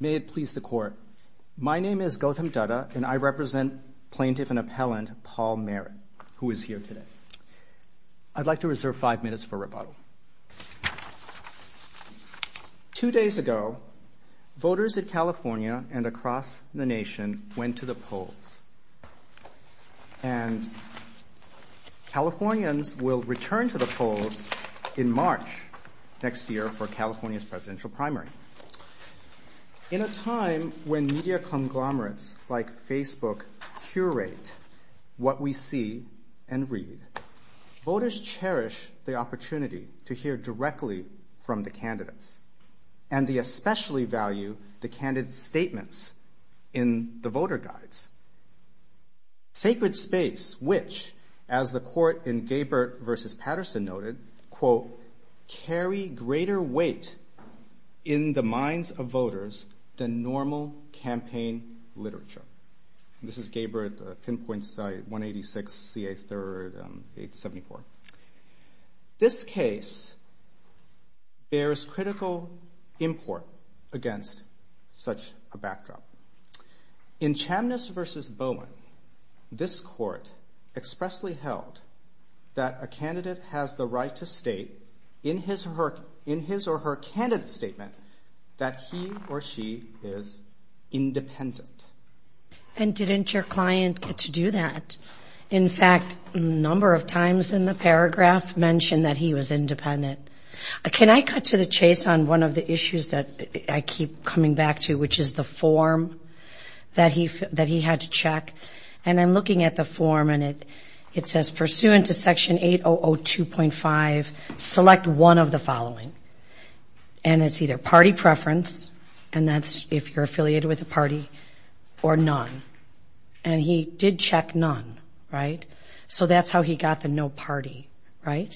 May it please the Court. My name is Gautam Dutta, and I represent Plaintiff and Appellant Paul Merritt, who is here today. I'd like to reserve five minutes for rebuttal. Two days ago, voters in California and across the nation went to the polls, and Californians will return to the polls in March next year for California's presidential primary. In a time when media conglomerates like Facebook curate what we see and read, voters cherish the opportunity to hear directly from the candidates, and they especially value the candidates' statements in the voter guides. Sacred space, which, as the Court in Gay-Bert v. Patterson noted, quote, carry greater weight in the minds of voters than normal campaign literature. This is Gay-Bert, Pinpoint, 186, CA 3, 874. This case bears critical import against such a backdrop. In Chamniss v. Bowen, this Court expressly held that a candidate has the right to state in his or her candidate statement that he or she is independent. And didn't your client get to do that? In fact, a number of times in the paragraph mentioned that he was independent. Can I cut to the chase on one of the issues that I keep coming back to, which is the form that he had to check? And I'm looking at the form, and it says, pursuant to Section 8002.5, select one of the following. And it's either party preference, and that's if you're affiliated with a party, or none. And he did check none, right? So that's how he got the no party, right?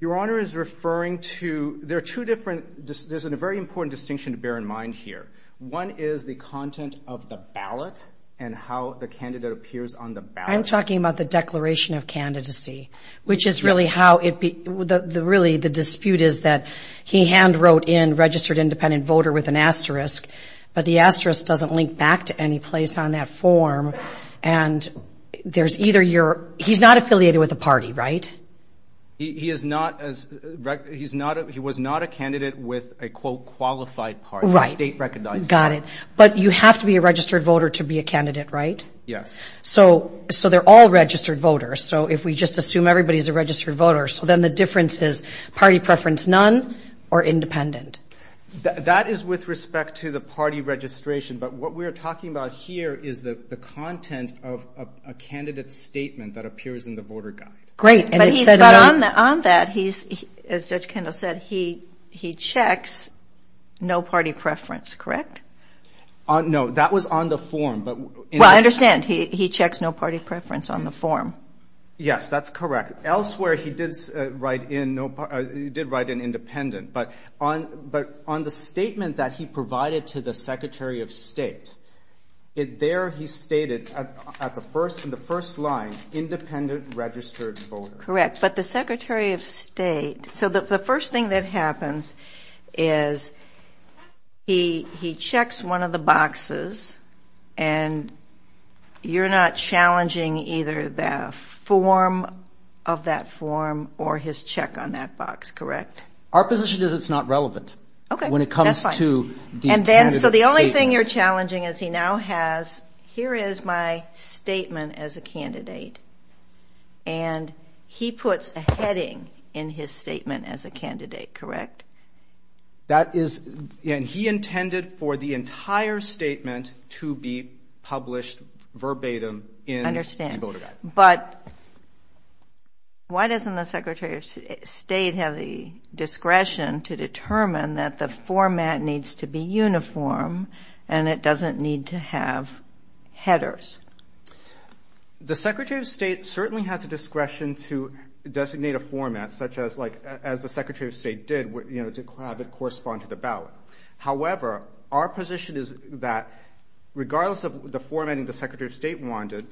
Your Honor is referring to, there are two different, there's a very important distinction to bear in mind here. One is the content of the ballot, and how the candidate appears on the ballot. I'm talking about the declaration of candidacy, which is really how it, really the dispute is that he hand wrote in registered independent voter with an asterisk, but the asterisk doesn't link back to any place on that form. And there's either you're, he's not affiliated with a party, right? He is not, he was not a candidate with a quote qualified party, a state recognized party. Right, got it. But you have to be a registered voter to be a candidate, right? Yes. So they're all registered voters. So if we just assume everybody's a registered voter, so then the difference is party preference none, or independent. That is with respect to the party registration, but what we're talking about here is the content of a candidate's statement that appears in the voter guide. Great. But on that, he's, as Judge Kendall said, he checks no party preference, correct? No, that was on the form. Well, I understand. He checks no party preference on the form. Yes, that's correct. Elsewhere, he did write in independent, but on the statement that he provided to the Secretary of State, there he stated in the first line, independent registered voter. Correct, but the Secretary of State, so the first thing that happens is he checks one of the boxes and you're not challenging either the form of that form or his check on that box, correct? Our position is it's not relevant. Okay, that's fine. When it comes to the intended statement. And he puts a heading in his statement as a candidate, correct? That is, and he intended for the entire statement to be published verbatim in the voter guide. I understand, but why doesn't the Secretary of State have the discretion to determine that the format needs to be uniform and it doesn't need to have headers? The Secretary of State certainly has the discretion to designate a format such as the Secretary of State did to have it correspond to the ballot. However, our position is that regardless of the formatting the Secretary of State wanted,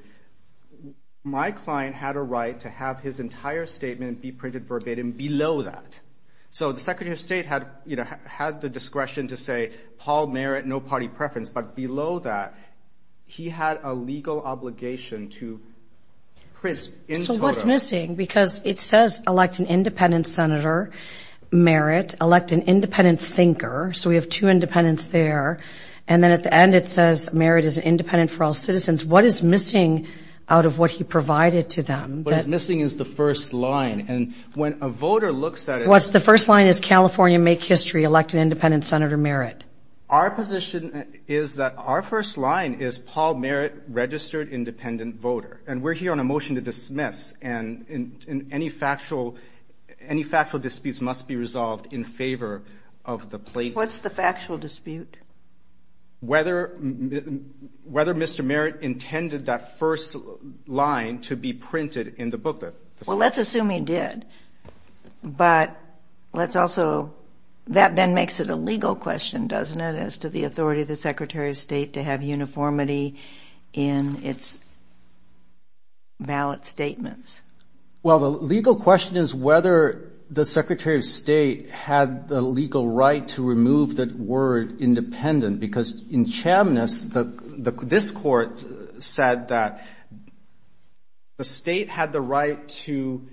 my client had a right to have his entire statement be printed verbatim below that. So the Secretary of State had the discretion to say Paul Merritt, no party preference, but below that he had a legal obligation to print in total. So what's missing? Because it says elect an independent senator, Merritt, elect an independent thinker, so we have two independents there. And then at the end it says Merritt is independent for all citizens. What is missing out of what he provided to them? What is missing is the first line. And when a voter looks at it. What's the first line? Is California make history, elect an independent Senator Merritt? Our position is that our first line is Paul Merritt, registered independent voter. And we're here on a motion to dismiss. And any factual disputes must be resolved in favor of the plaintiff. What's the factual dispute? Whether Mr. Merritt intended that first line to be printed in the booklet. Well, let's assume he did. But let's also, that then makes it a legal question, doesn't it, as to the authority of the Secretary of State to have uniformity in its ballot statements. Well, the legal question is whether the Secretary of State had the legal right to remove that word independent. Because in Chambliss, this Court said that the State had the right to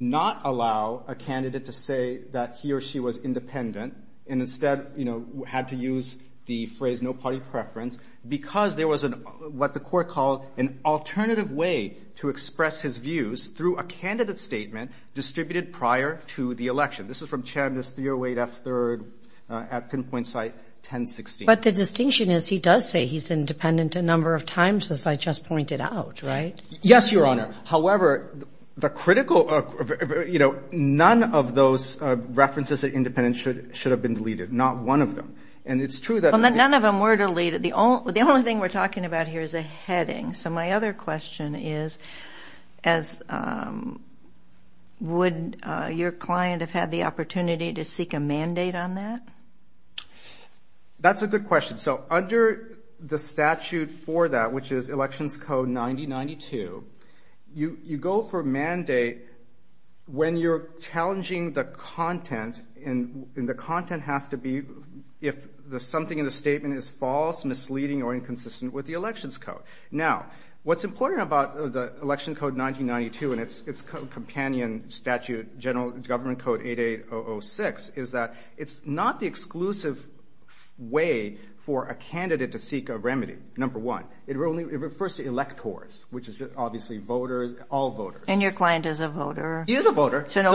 not allow a candidate to say that he or she was independent. And instead, you know, had to use the phrase no party preference. Because there was what the Court called an alternative way to express his views through a candidate statement distributed prior to the election. This is from Chambliss 308F3rd at Pinpoint Site 1016. But the distinction is he does say he's independent a number of times, as I just pointed out, right? Yes, Your Honor. However, the critical, you know, none of those references at independent should have been deleted. Not one of them. And it's true that the – Well, none of them were deleted. The only thing we're talking about here is a heading. So my other question is would your client have had the opportunity to seek a mandate on that? That's a good question. So under the statute for that, which is Elections Code 9092, you go for mandate when you're challenging the content, and the content has to be if something in the statement is false, misleading, or inconsistent with the Elections Code. Now, what's important about the Elections Code 1992 and its companion statute, General Government Code 88006, is that it's not the exclusive way for a candidate to seek a remedy, number one. It refers to electors, which is obviously voters, all voters. And your client is a voter. He is a voter. Okay,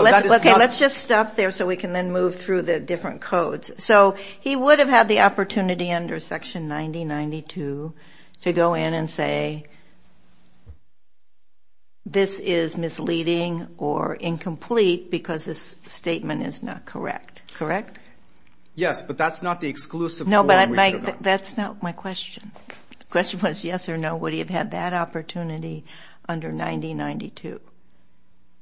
let's just stop there so we can then move through the different codes. So he would have had the opportunity under Section 9092 to go in and say, this is misleading or incomplete because this statement is not correct, correct? Yes, but that's not the exclusive form. No, but that's not my question. The question was yes or no, would he have had that opportunity under 9092?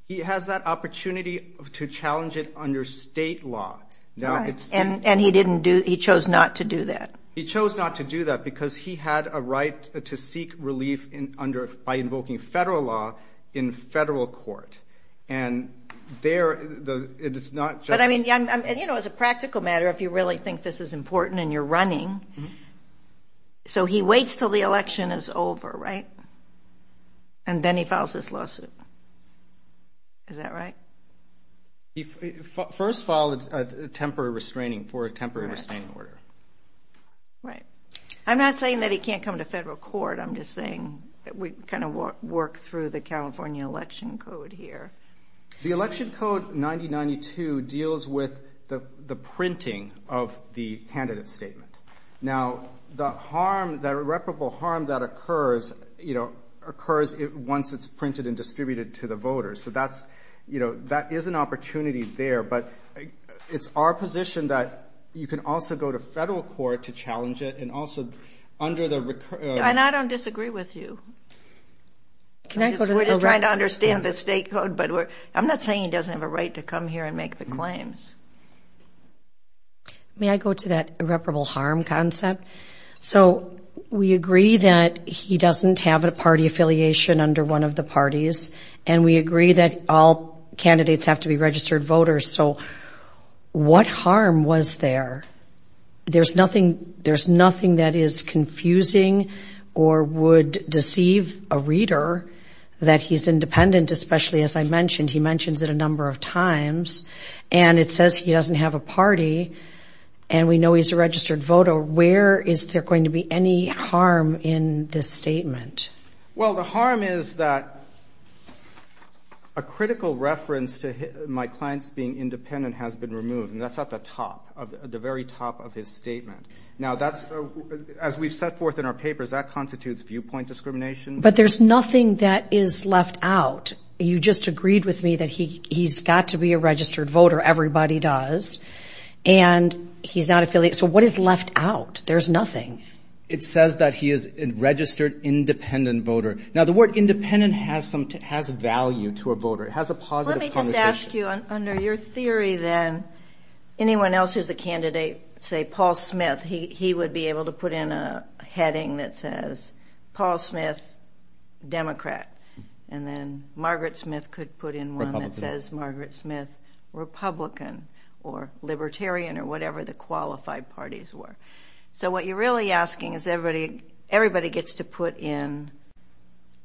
He has that opportunity to challenge it under state law. And he chose not to do that. He chose not to do that because he had a right to seek relief by invoking federal law in federal court. And there it is not just – But, I mean, you know, as a practical matter, if you really think this is important and you're running, so he waits until the election is over, right? And then he files this lawsuit. Is that right? He first filed a temporary restraining – for a temporary restraining order. Right. I'm not saying that he can't come to federal court. I'm just saying that we kind of work through the California Election Code here. The Election Code 9092 deals with the printing of the candidate statement. Now, the harm, the irreparable harm that occurs, you know, occurs once it's printed and distributed to the voters. So that's, you know, that is an opportunity there. But it's our position that you can also go to federal court to challenge it and also under the – And I don't disagree with you. We're just trying to understand the state code. But I'm not saying he doesn't have a right to come here and make the claims. May I go to that irreparable harm concept? So we agree that he doesn't have a party affiliation under one of the parties. And we agree that all candidates have to be registered voters. So what harm was there? There's nothing that is confusing or would deceive a reader that he's independent, especially, as I mentioned. He mentions it a number of times. And it says he doesn't have a party. And we know he's a registered voter. Where is there going to be any harm in this statement? Well, the harm is that a critical reference to my clients being independent has been removed. And that's at the top, at the very top of his statement. Now, that's – as we've set forth in our papers, that constitutes viewpoint discrimination. But there's nothing that is left out. You just agreed with me that he's got to be a registered voter. Everybody does. And he's not affiliated. So what is left out? There's nothing. It says that he is a registered independent voter. Now, the word independent has some – has value to a voter. It has a positive connotation. Let me just ask you, under your theory then, anyone else who's a candidate, say Paul Smith, he would be able to put in a heading that says Paul Smith, Democrat. And then Margaret Smith could put in one that says Margaret Smith, Republican or Libertarian or whatever the qualified parties were. So what you're really asking is everybody gets to put in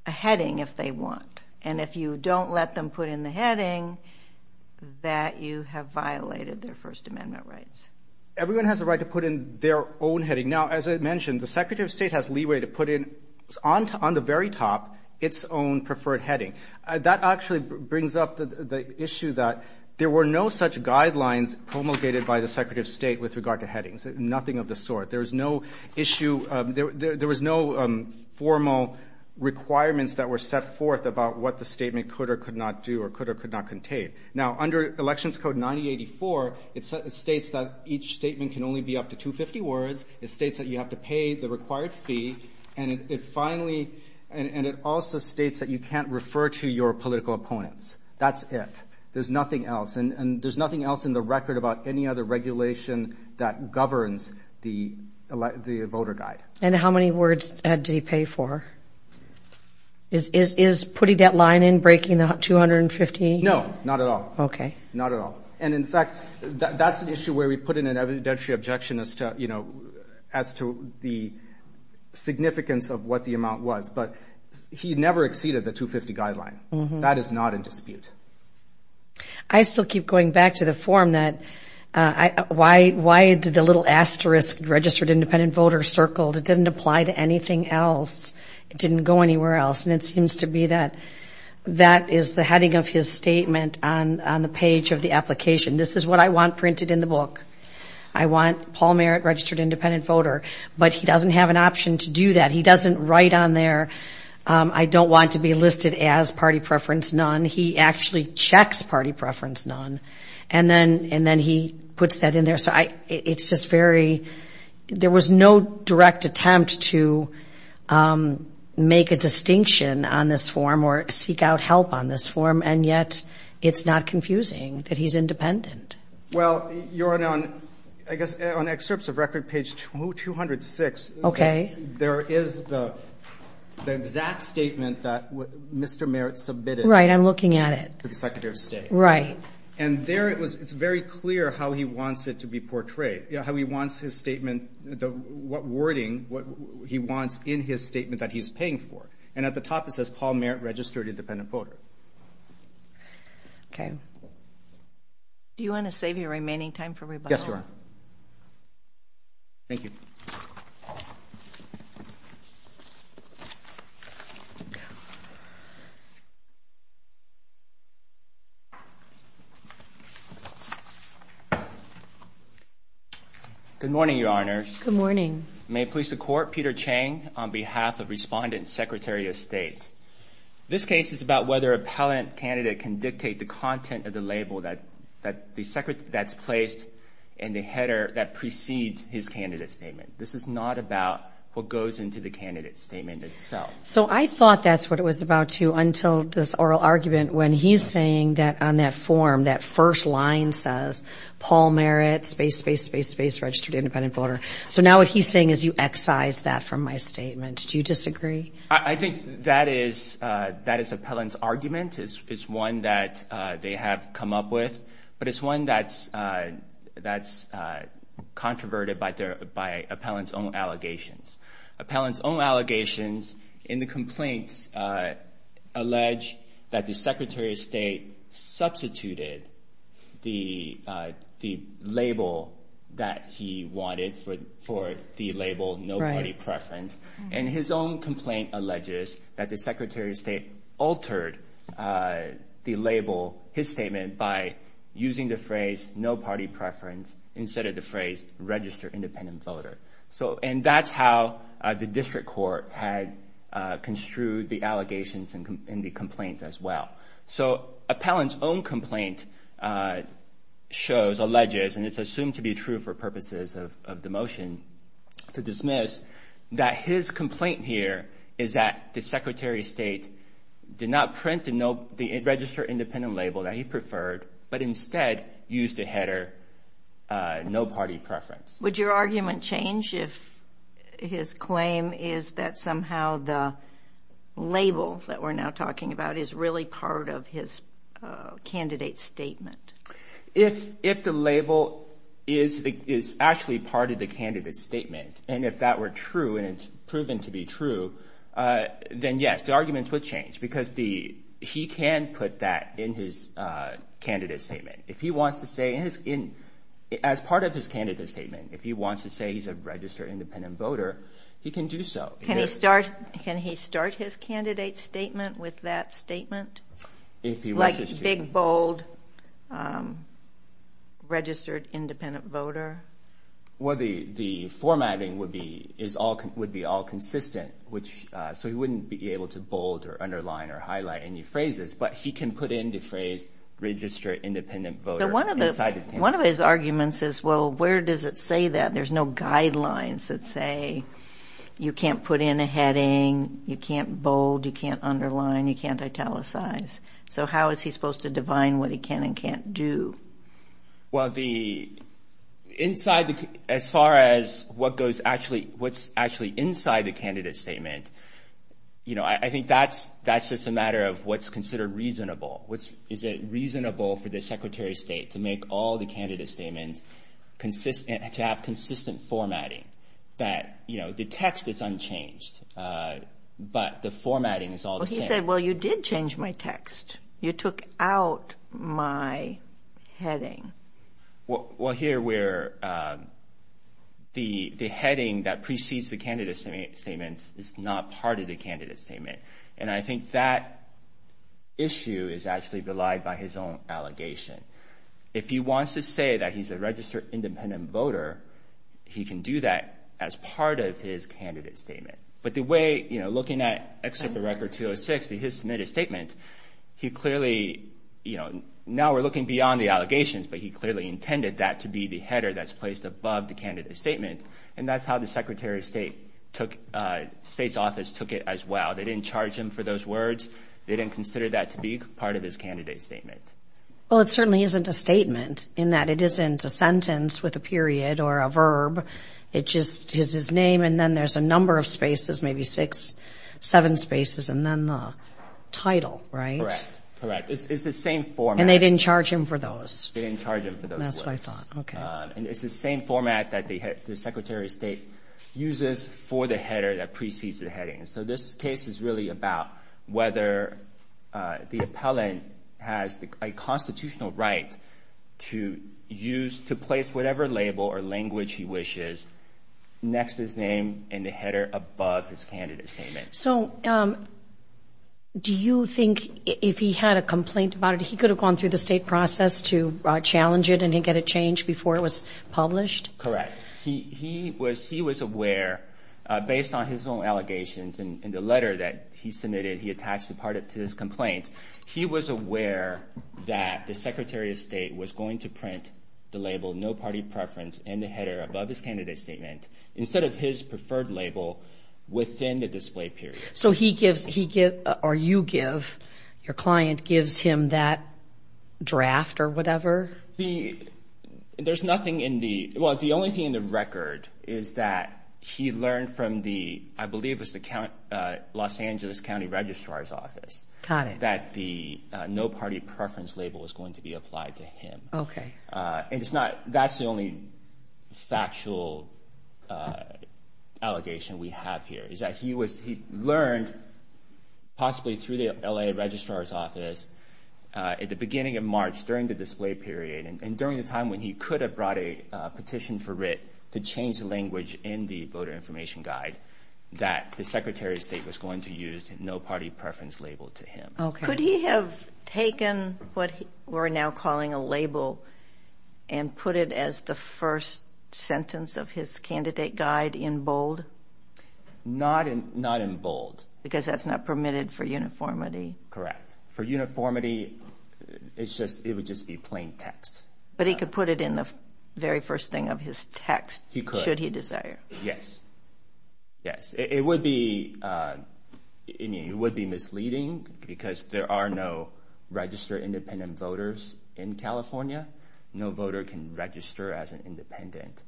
a heading if they want. And if you don't let them put in the heading, that you have violated their First Amendment rights. Everyone has a right to put in their own heading. Now, as I mentioned, the Secretary of State has leeway to put in, on the very top, its own preferred heading. That actually brings up the issue that there were no such guidelines promulgated by the Secretary of State with regard to headings, nothing of the sort. There was no issue – there was no formal requirements that were set forth about what the statement could or could not do or could or could not contain. Now, under Elections Code 9084, it states that each statement can only be up to 250 words. It states that you have to pay the required fee. And it finally – and it also states that you can't refer to your political opponents. That's it. There's nothing else. And there's nothing else in the record about any other regulation that governs the voter guide. And how many words did he pay for? Is putting that line in breaking the 250? No, not at all. Okay. Not at all. And, in fact, that's an issue where we put in an evidentiary objection as to, you know, as to the significance of what the amount was. But he never exceeded the 250 guideline. That is not in dispute. I still keep going back to the form that – why did the little asterisk, registered independent voter, circled? It didn't apply to anything else. It didn't go anywhere else. And it seems to be that that is the heading of his statement on the page of the application. This is what I want printed in the book. I want Paul Merritt, registered independent voter. But he doesn't have an option to do that. He doesn't write on there, I don't want to be listed as party preference, none. And he actually checks party preference, none. And then he puts that in there. So it's just very – there was no direct attempt to make a distinction on this form or seek out help on this form. And yet it's not confusing that he's independent. Well, you're on, I guess, on excerpts of record page 206. Okay. There is the exact statement that Mr. Merritt submitted. Right, I'm looking at it. To the Secretary of State. Right. And there it's very clear how he wants it to be portrayed, how he wants his statement – what wording he wants in his statement that he's paying for. And at the top it says, Paul Merritt, registered independent voter. Okay. Do you want to save your remaining time for rebuttal? Yes, Your Honor. Thank you. Good morning, Your Honor. Good morning. May it please the Court, Peter Chang on behalf of Respondent, Secretary of State. This case is about whether appellant candidate can dictate the content of the label that's placed in the header that precedes his candidate statement. This is not about what goes into the candidate statement itself. So I thought that's what it was about, too, until this oral argument when he's saying that on that form, that first line says, Paul Merritt, space, space, space, space, registered independent voter. So now what he's saying is you excise that from my statement. Do you disagree? I think that is appellant's argument. It's one that they have come up with. But it's one that's controverted by appellant's own allegations. Appellant's own allegations in the complaints allege that the Secretary of State substituted the label that he wanted for the label no party preference. And his own complaint alleges that the Secretary of State altered the label, his statement, by using the phrase no party preference instead of the phrase registered independent voter. And that's how the district court had construed the allegations in the complaints as well. So appellant's own complaint shows, alleges, and it's assumed to be true for purposes of the motion to dismiss, that his complaint here is that the Secretary of State did not print the registered independent label that he preferred, but instead used the header no party preference. Would your argument change if his claim is that somehow the label that we're now talking about is really part of his candidate's statement? If the label is actually part of the candidate's statement, and if that were true and it's proven to be true, then yes. The argument would change because he can put that in his candidate's statement. If he wants to say, as part of his candidate's statement, if he wants to say he's a registered independent voter, he can do so. Can he start his candidate's statement with that statement? Like big, bold, registered independent voter? Well, the formatting would be all consistent, so he wouldn't be able to bold or underline or highlight any phrases, but he can put in the phrase registered independent voter inside the candidate's statement. One of his arguments is, well, where does it say that? There's no guidelines that say you can't put in a heading, you can't bold, you can't underline, you can't italicize. So how is he supposed to divine what he can and can't do? Well, as far as what's actually inside the candidate's statement, I think that's just a matter of what's considered reasonable. Is it reasonable for the Secretary of State to make all the candidate's statements to have consistent formatting? That the text is unchanged, but the formatting is all the same. He said, well, you did change my text. You took out my heading. Well, here where the heading that precedes the candidate's statement is not part of the candidate's statement, and I think that issue is actually relied by his own allegation. If he wants to say that he's a registered independent voter, he can do that as part of his candidate's statement. But the way, you know, looking at Excerpt of Record 206, his submitted statement, he clearly, you know, now we're looking beyond the allegations, but he clearly intended that to be the header that's placed above the candidate's statement, and that's how the Secretary of State's office took it as well. They didn't charge him for those words. They didn't consider that to be part of his candidate's statement. Well, it certainly isn't a statement in that it isn't a sentence with a period or a verb. It just is his name, and then there's a number of spaces, maybe six, seven spaces, and then the title, right? Correct. Correct. It's the same format. And they didn't charge him for those? They didn't charge him for those words. That's what I thought. Okay. And it's the same format that the Secretary of State uses for the header that precedes the heading. And so this case is really about whether the appellant has a constitutional right to use, to place whatever label or language he wishes next to his name in the header above his candidate's statement. So do you think if he had a complaint about it, he could have gone through the state process to challenge it and get a change before it was published? Correct. He was aware, based on his own allegations in the letter that he submitted, he attached the part to his complaint, he was aware that the Secretary of State was going to print the label, no party preference in the header above his candidate's statement, instead of his preferred label within the display period. So he gives, or you give, your client gives him that draft or whatever? There's nothing in the, well, the only thing in the record is that he learned from the, I believe it was the Los Angeles County Registrar's Office. Got it. That the no party preference label was going to be applied to him. Okay. And it's not, that's the only factual allegation we have here, is that he learned, possibly through the L.A. Registrar's Office, at the beginning of March, during the display period, and during the time when he could have brought a petition for writ to change the language in the Voter Information Guide, that the Secretary of State was going to use no party preference label to him. Could he have taken what we're now calling a label and put it as the first sentence of his candidate guide in bold? Not in bold. Because that's not permitted for uniformity? Correct. For uniformity, it's just, it would just be plain text. But he could put it in the very first thing of his text. He could. Should he desire. Yes. Yes. It would be, I mean, it would be misleading because there are no registered independent voters in California. No voter can register as an independent.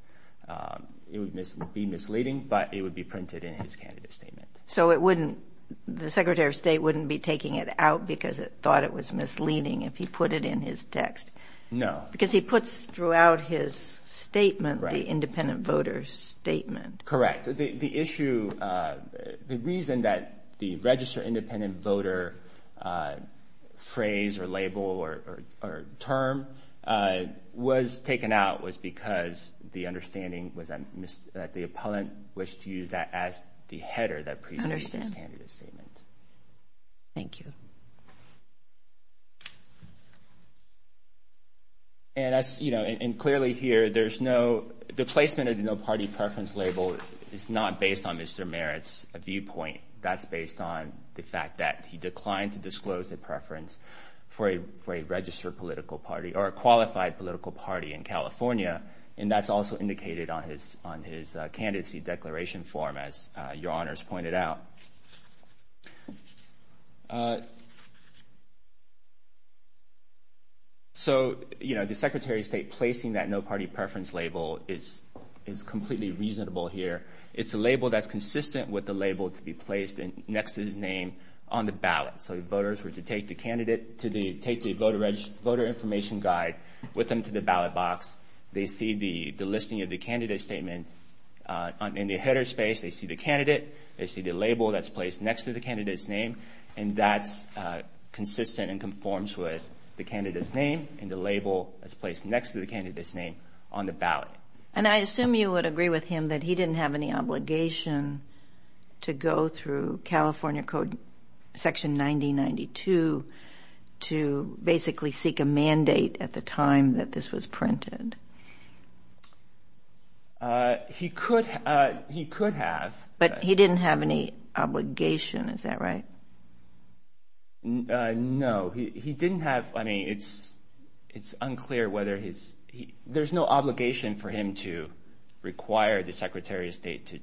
It would be misleading, but it would be printed in his candidate statement. So it wouldn't, the Secretary of State wouldn't be taking it out because it thought it was misleading if he put it in his text? No. Because he puts throughout his statement the independent voter statement. Correct. The issue, the reason that the register independent voter phrase or label or term was taken out was because the understanding was that the appellant wished to use that as the header that precedes his candidate statement. Thank you. And as, you know, and clearly here, there's no, the placement of the no party preference label is not based on Mr. Merritt's viewpoint. That's based on the fact that he declined to disclose a preference for a registered political party or a qualified political party in California. And that's also indicated on his, on his candidacy declaration form, as your honors pointed out. So, you know, the Secretary of State placing that no party preference label is, is completely reasonable here. It's a label that's consistent with the label to be placed next to his name on the ballot. So the voters were to take the candidate to the, take the voter information guide with them to the ballot box. They see the listing of the candidate statements in the header space. They see the candidate. They see the label that's placed next to the candidate's name. And that's consistent and conforms with the candidate's name and the label that's placed next to the candidate's name on the ballot. And I assume you would agree with him that he didn't have any obligation to go through California Code Section 9092 to basically seek a mandate at the time that this was printed. He could, he could have. But he didn't have any obligation, is that right? No, he didn't have, I mean, it's, it's unclear whether he's, there's no obligation for him to require the Secretary of State to,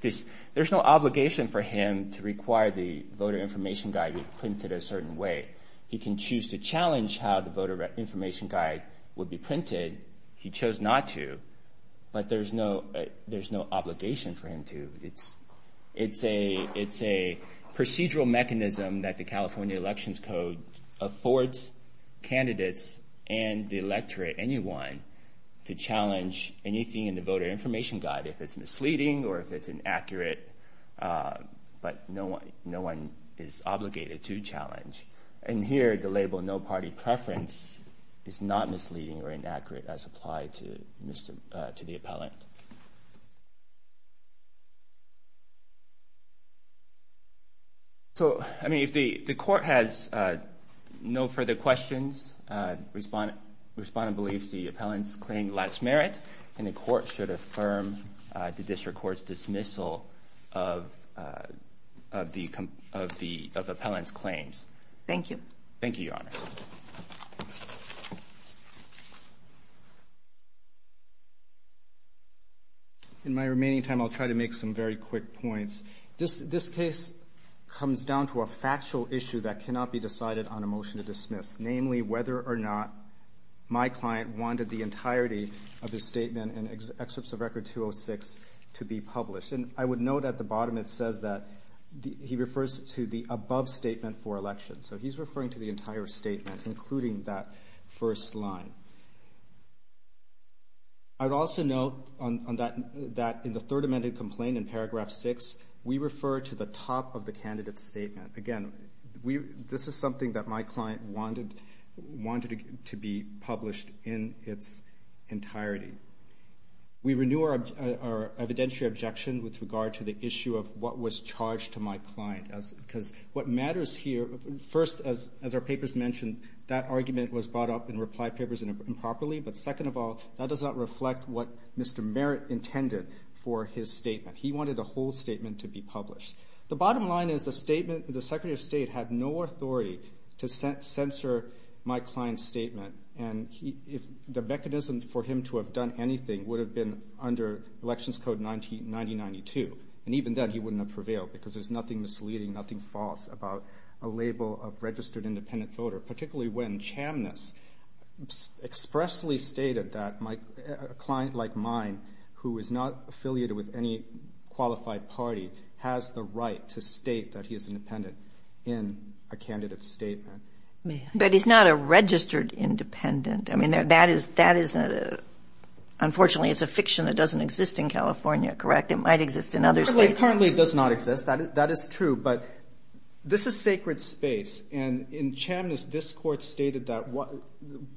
there's no obligation for him to require the voter information guide to be printed a certain way. He can choose to challenge how the voter information guide would be printed. He chose not to. But there's no, there's no obligation for him to. It's, it's a, it's a procedural mechanism that the California Elections Code affords candidates and the electorate, anyone, to challenge anything in the voter information guide. If it's misleading or if it's inaccurate. But no one, no one is obligated to challenge. And here the label no party preference is not misleading or inaccurate as applied to the appellant. So, I mean, if the, the court has no further questions, respondent, respondent believes the appellant's claim lacks merit and the court should affirm the district court's dismissal of the, of the, of the appellant's claims. Thank you. In my remaining time I'll try to make some very quick points. This, this case comes down to a factual issue that cannot be decided on a motion to dismiss. Namely, whether or not my client wanted the entirety of his statement in Excerpts of Record 206 to be published. And I would note at the bottom it says that he refers to the above statement for election. So he's referring to the entire statement including that first line. I'd also note on, on that, that in the third amended complaint in paragraph six, we refer to the top of the candidate's statement. Again, we, this is something that my client wanted, wanted to be published in its entirety. We renew our evidentiary objection with regard to the issue of what was charged to my client. Because what matters here, first, as, as our papers mentioned, that argument was brought up in reply papers improperly. But second of all, that does not reflect what Mr. Merritt intended for his statement. He wanted the whole statement to be published. The bottom line is the statement, the Secretary of State had no authority to censor my client's statement. And he, if, the mechanism for him to have done anything would have been under Elections Code 19, 1992. And even then he wouldn't have prevailed because there's nothing misleading, nothing false about a label of registered independent voter. Particularly when Chamness expressly stated that my, a client like mine who is not affiliated with any qualified party has the right to state that he is independent in a candidate's statement. But he's not a registered independent. I mean, that is, that is a, unfortunately it's a fiction that doesn't exist in California, correct? It might exist in other states. It currently does not exist. That is, that is true. But this is sacred space. And in Chamness, this Court stated that what,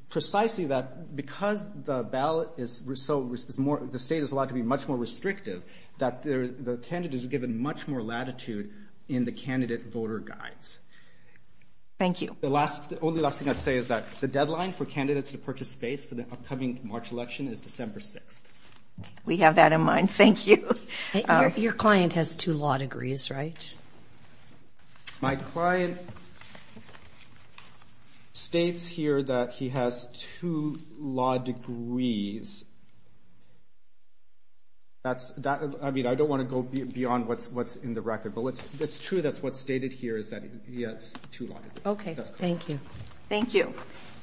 precisely that because the ballot is so, is more, the state is allowed to be much more restrictive, that the, the candidate is given much more latitude in the candidate voter guides. Thank you. The last, the only last thing I'd say is that the deadline for candidates to purchase space for the upcoming March election is December 6th. We have that in mind. Thank you. Your client has two law degrees, right? My client states here that he has two law degrees. That's, that, I mean, I don't want to go beyond what's, what's in the record. But it's true that's what's stated here is that he has two law degrees. Okay. Thank you. Thank you.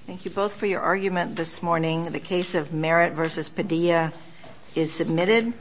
Thank you both for your argument this morning. The case of Merritt v. Padilla is submitted.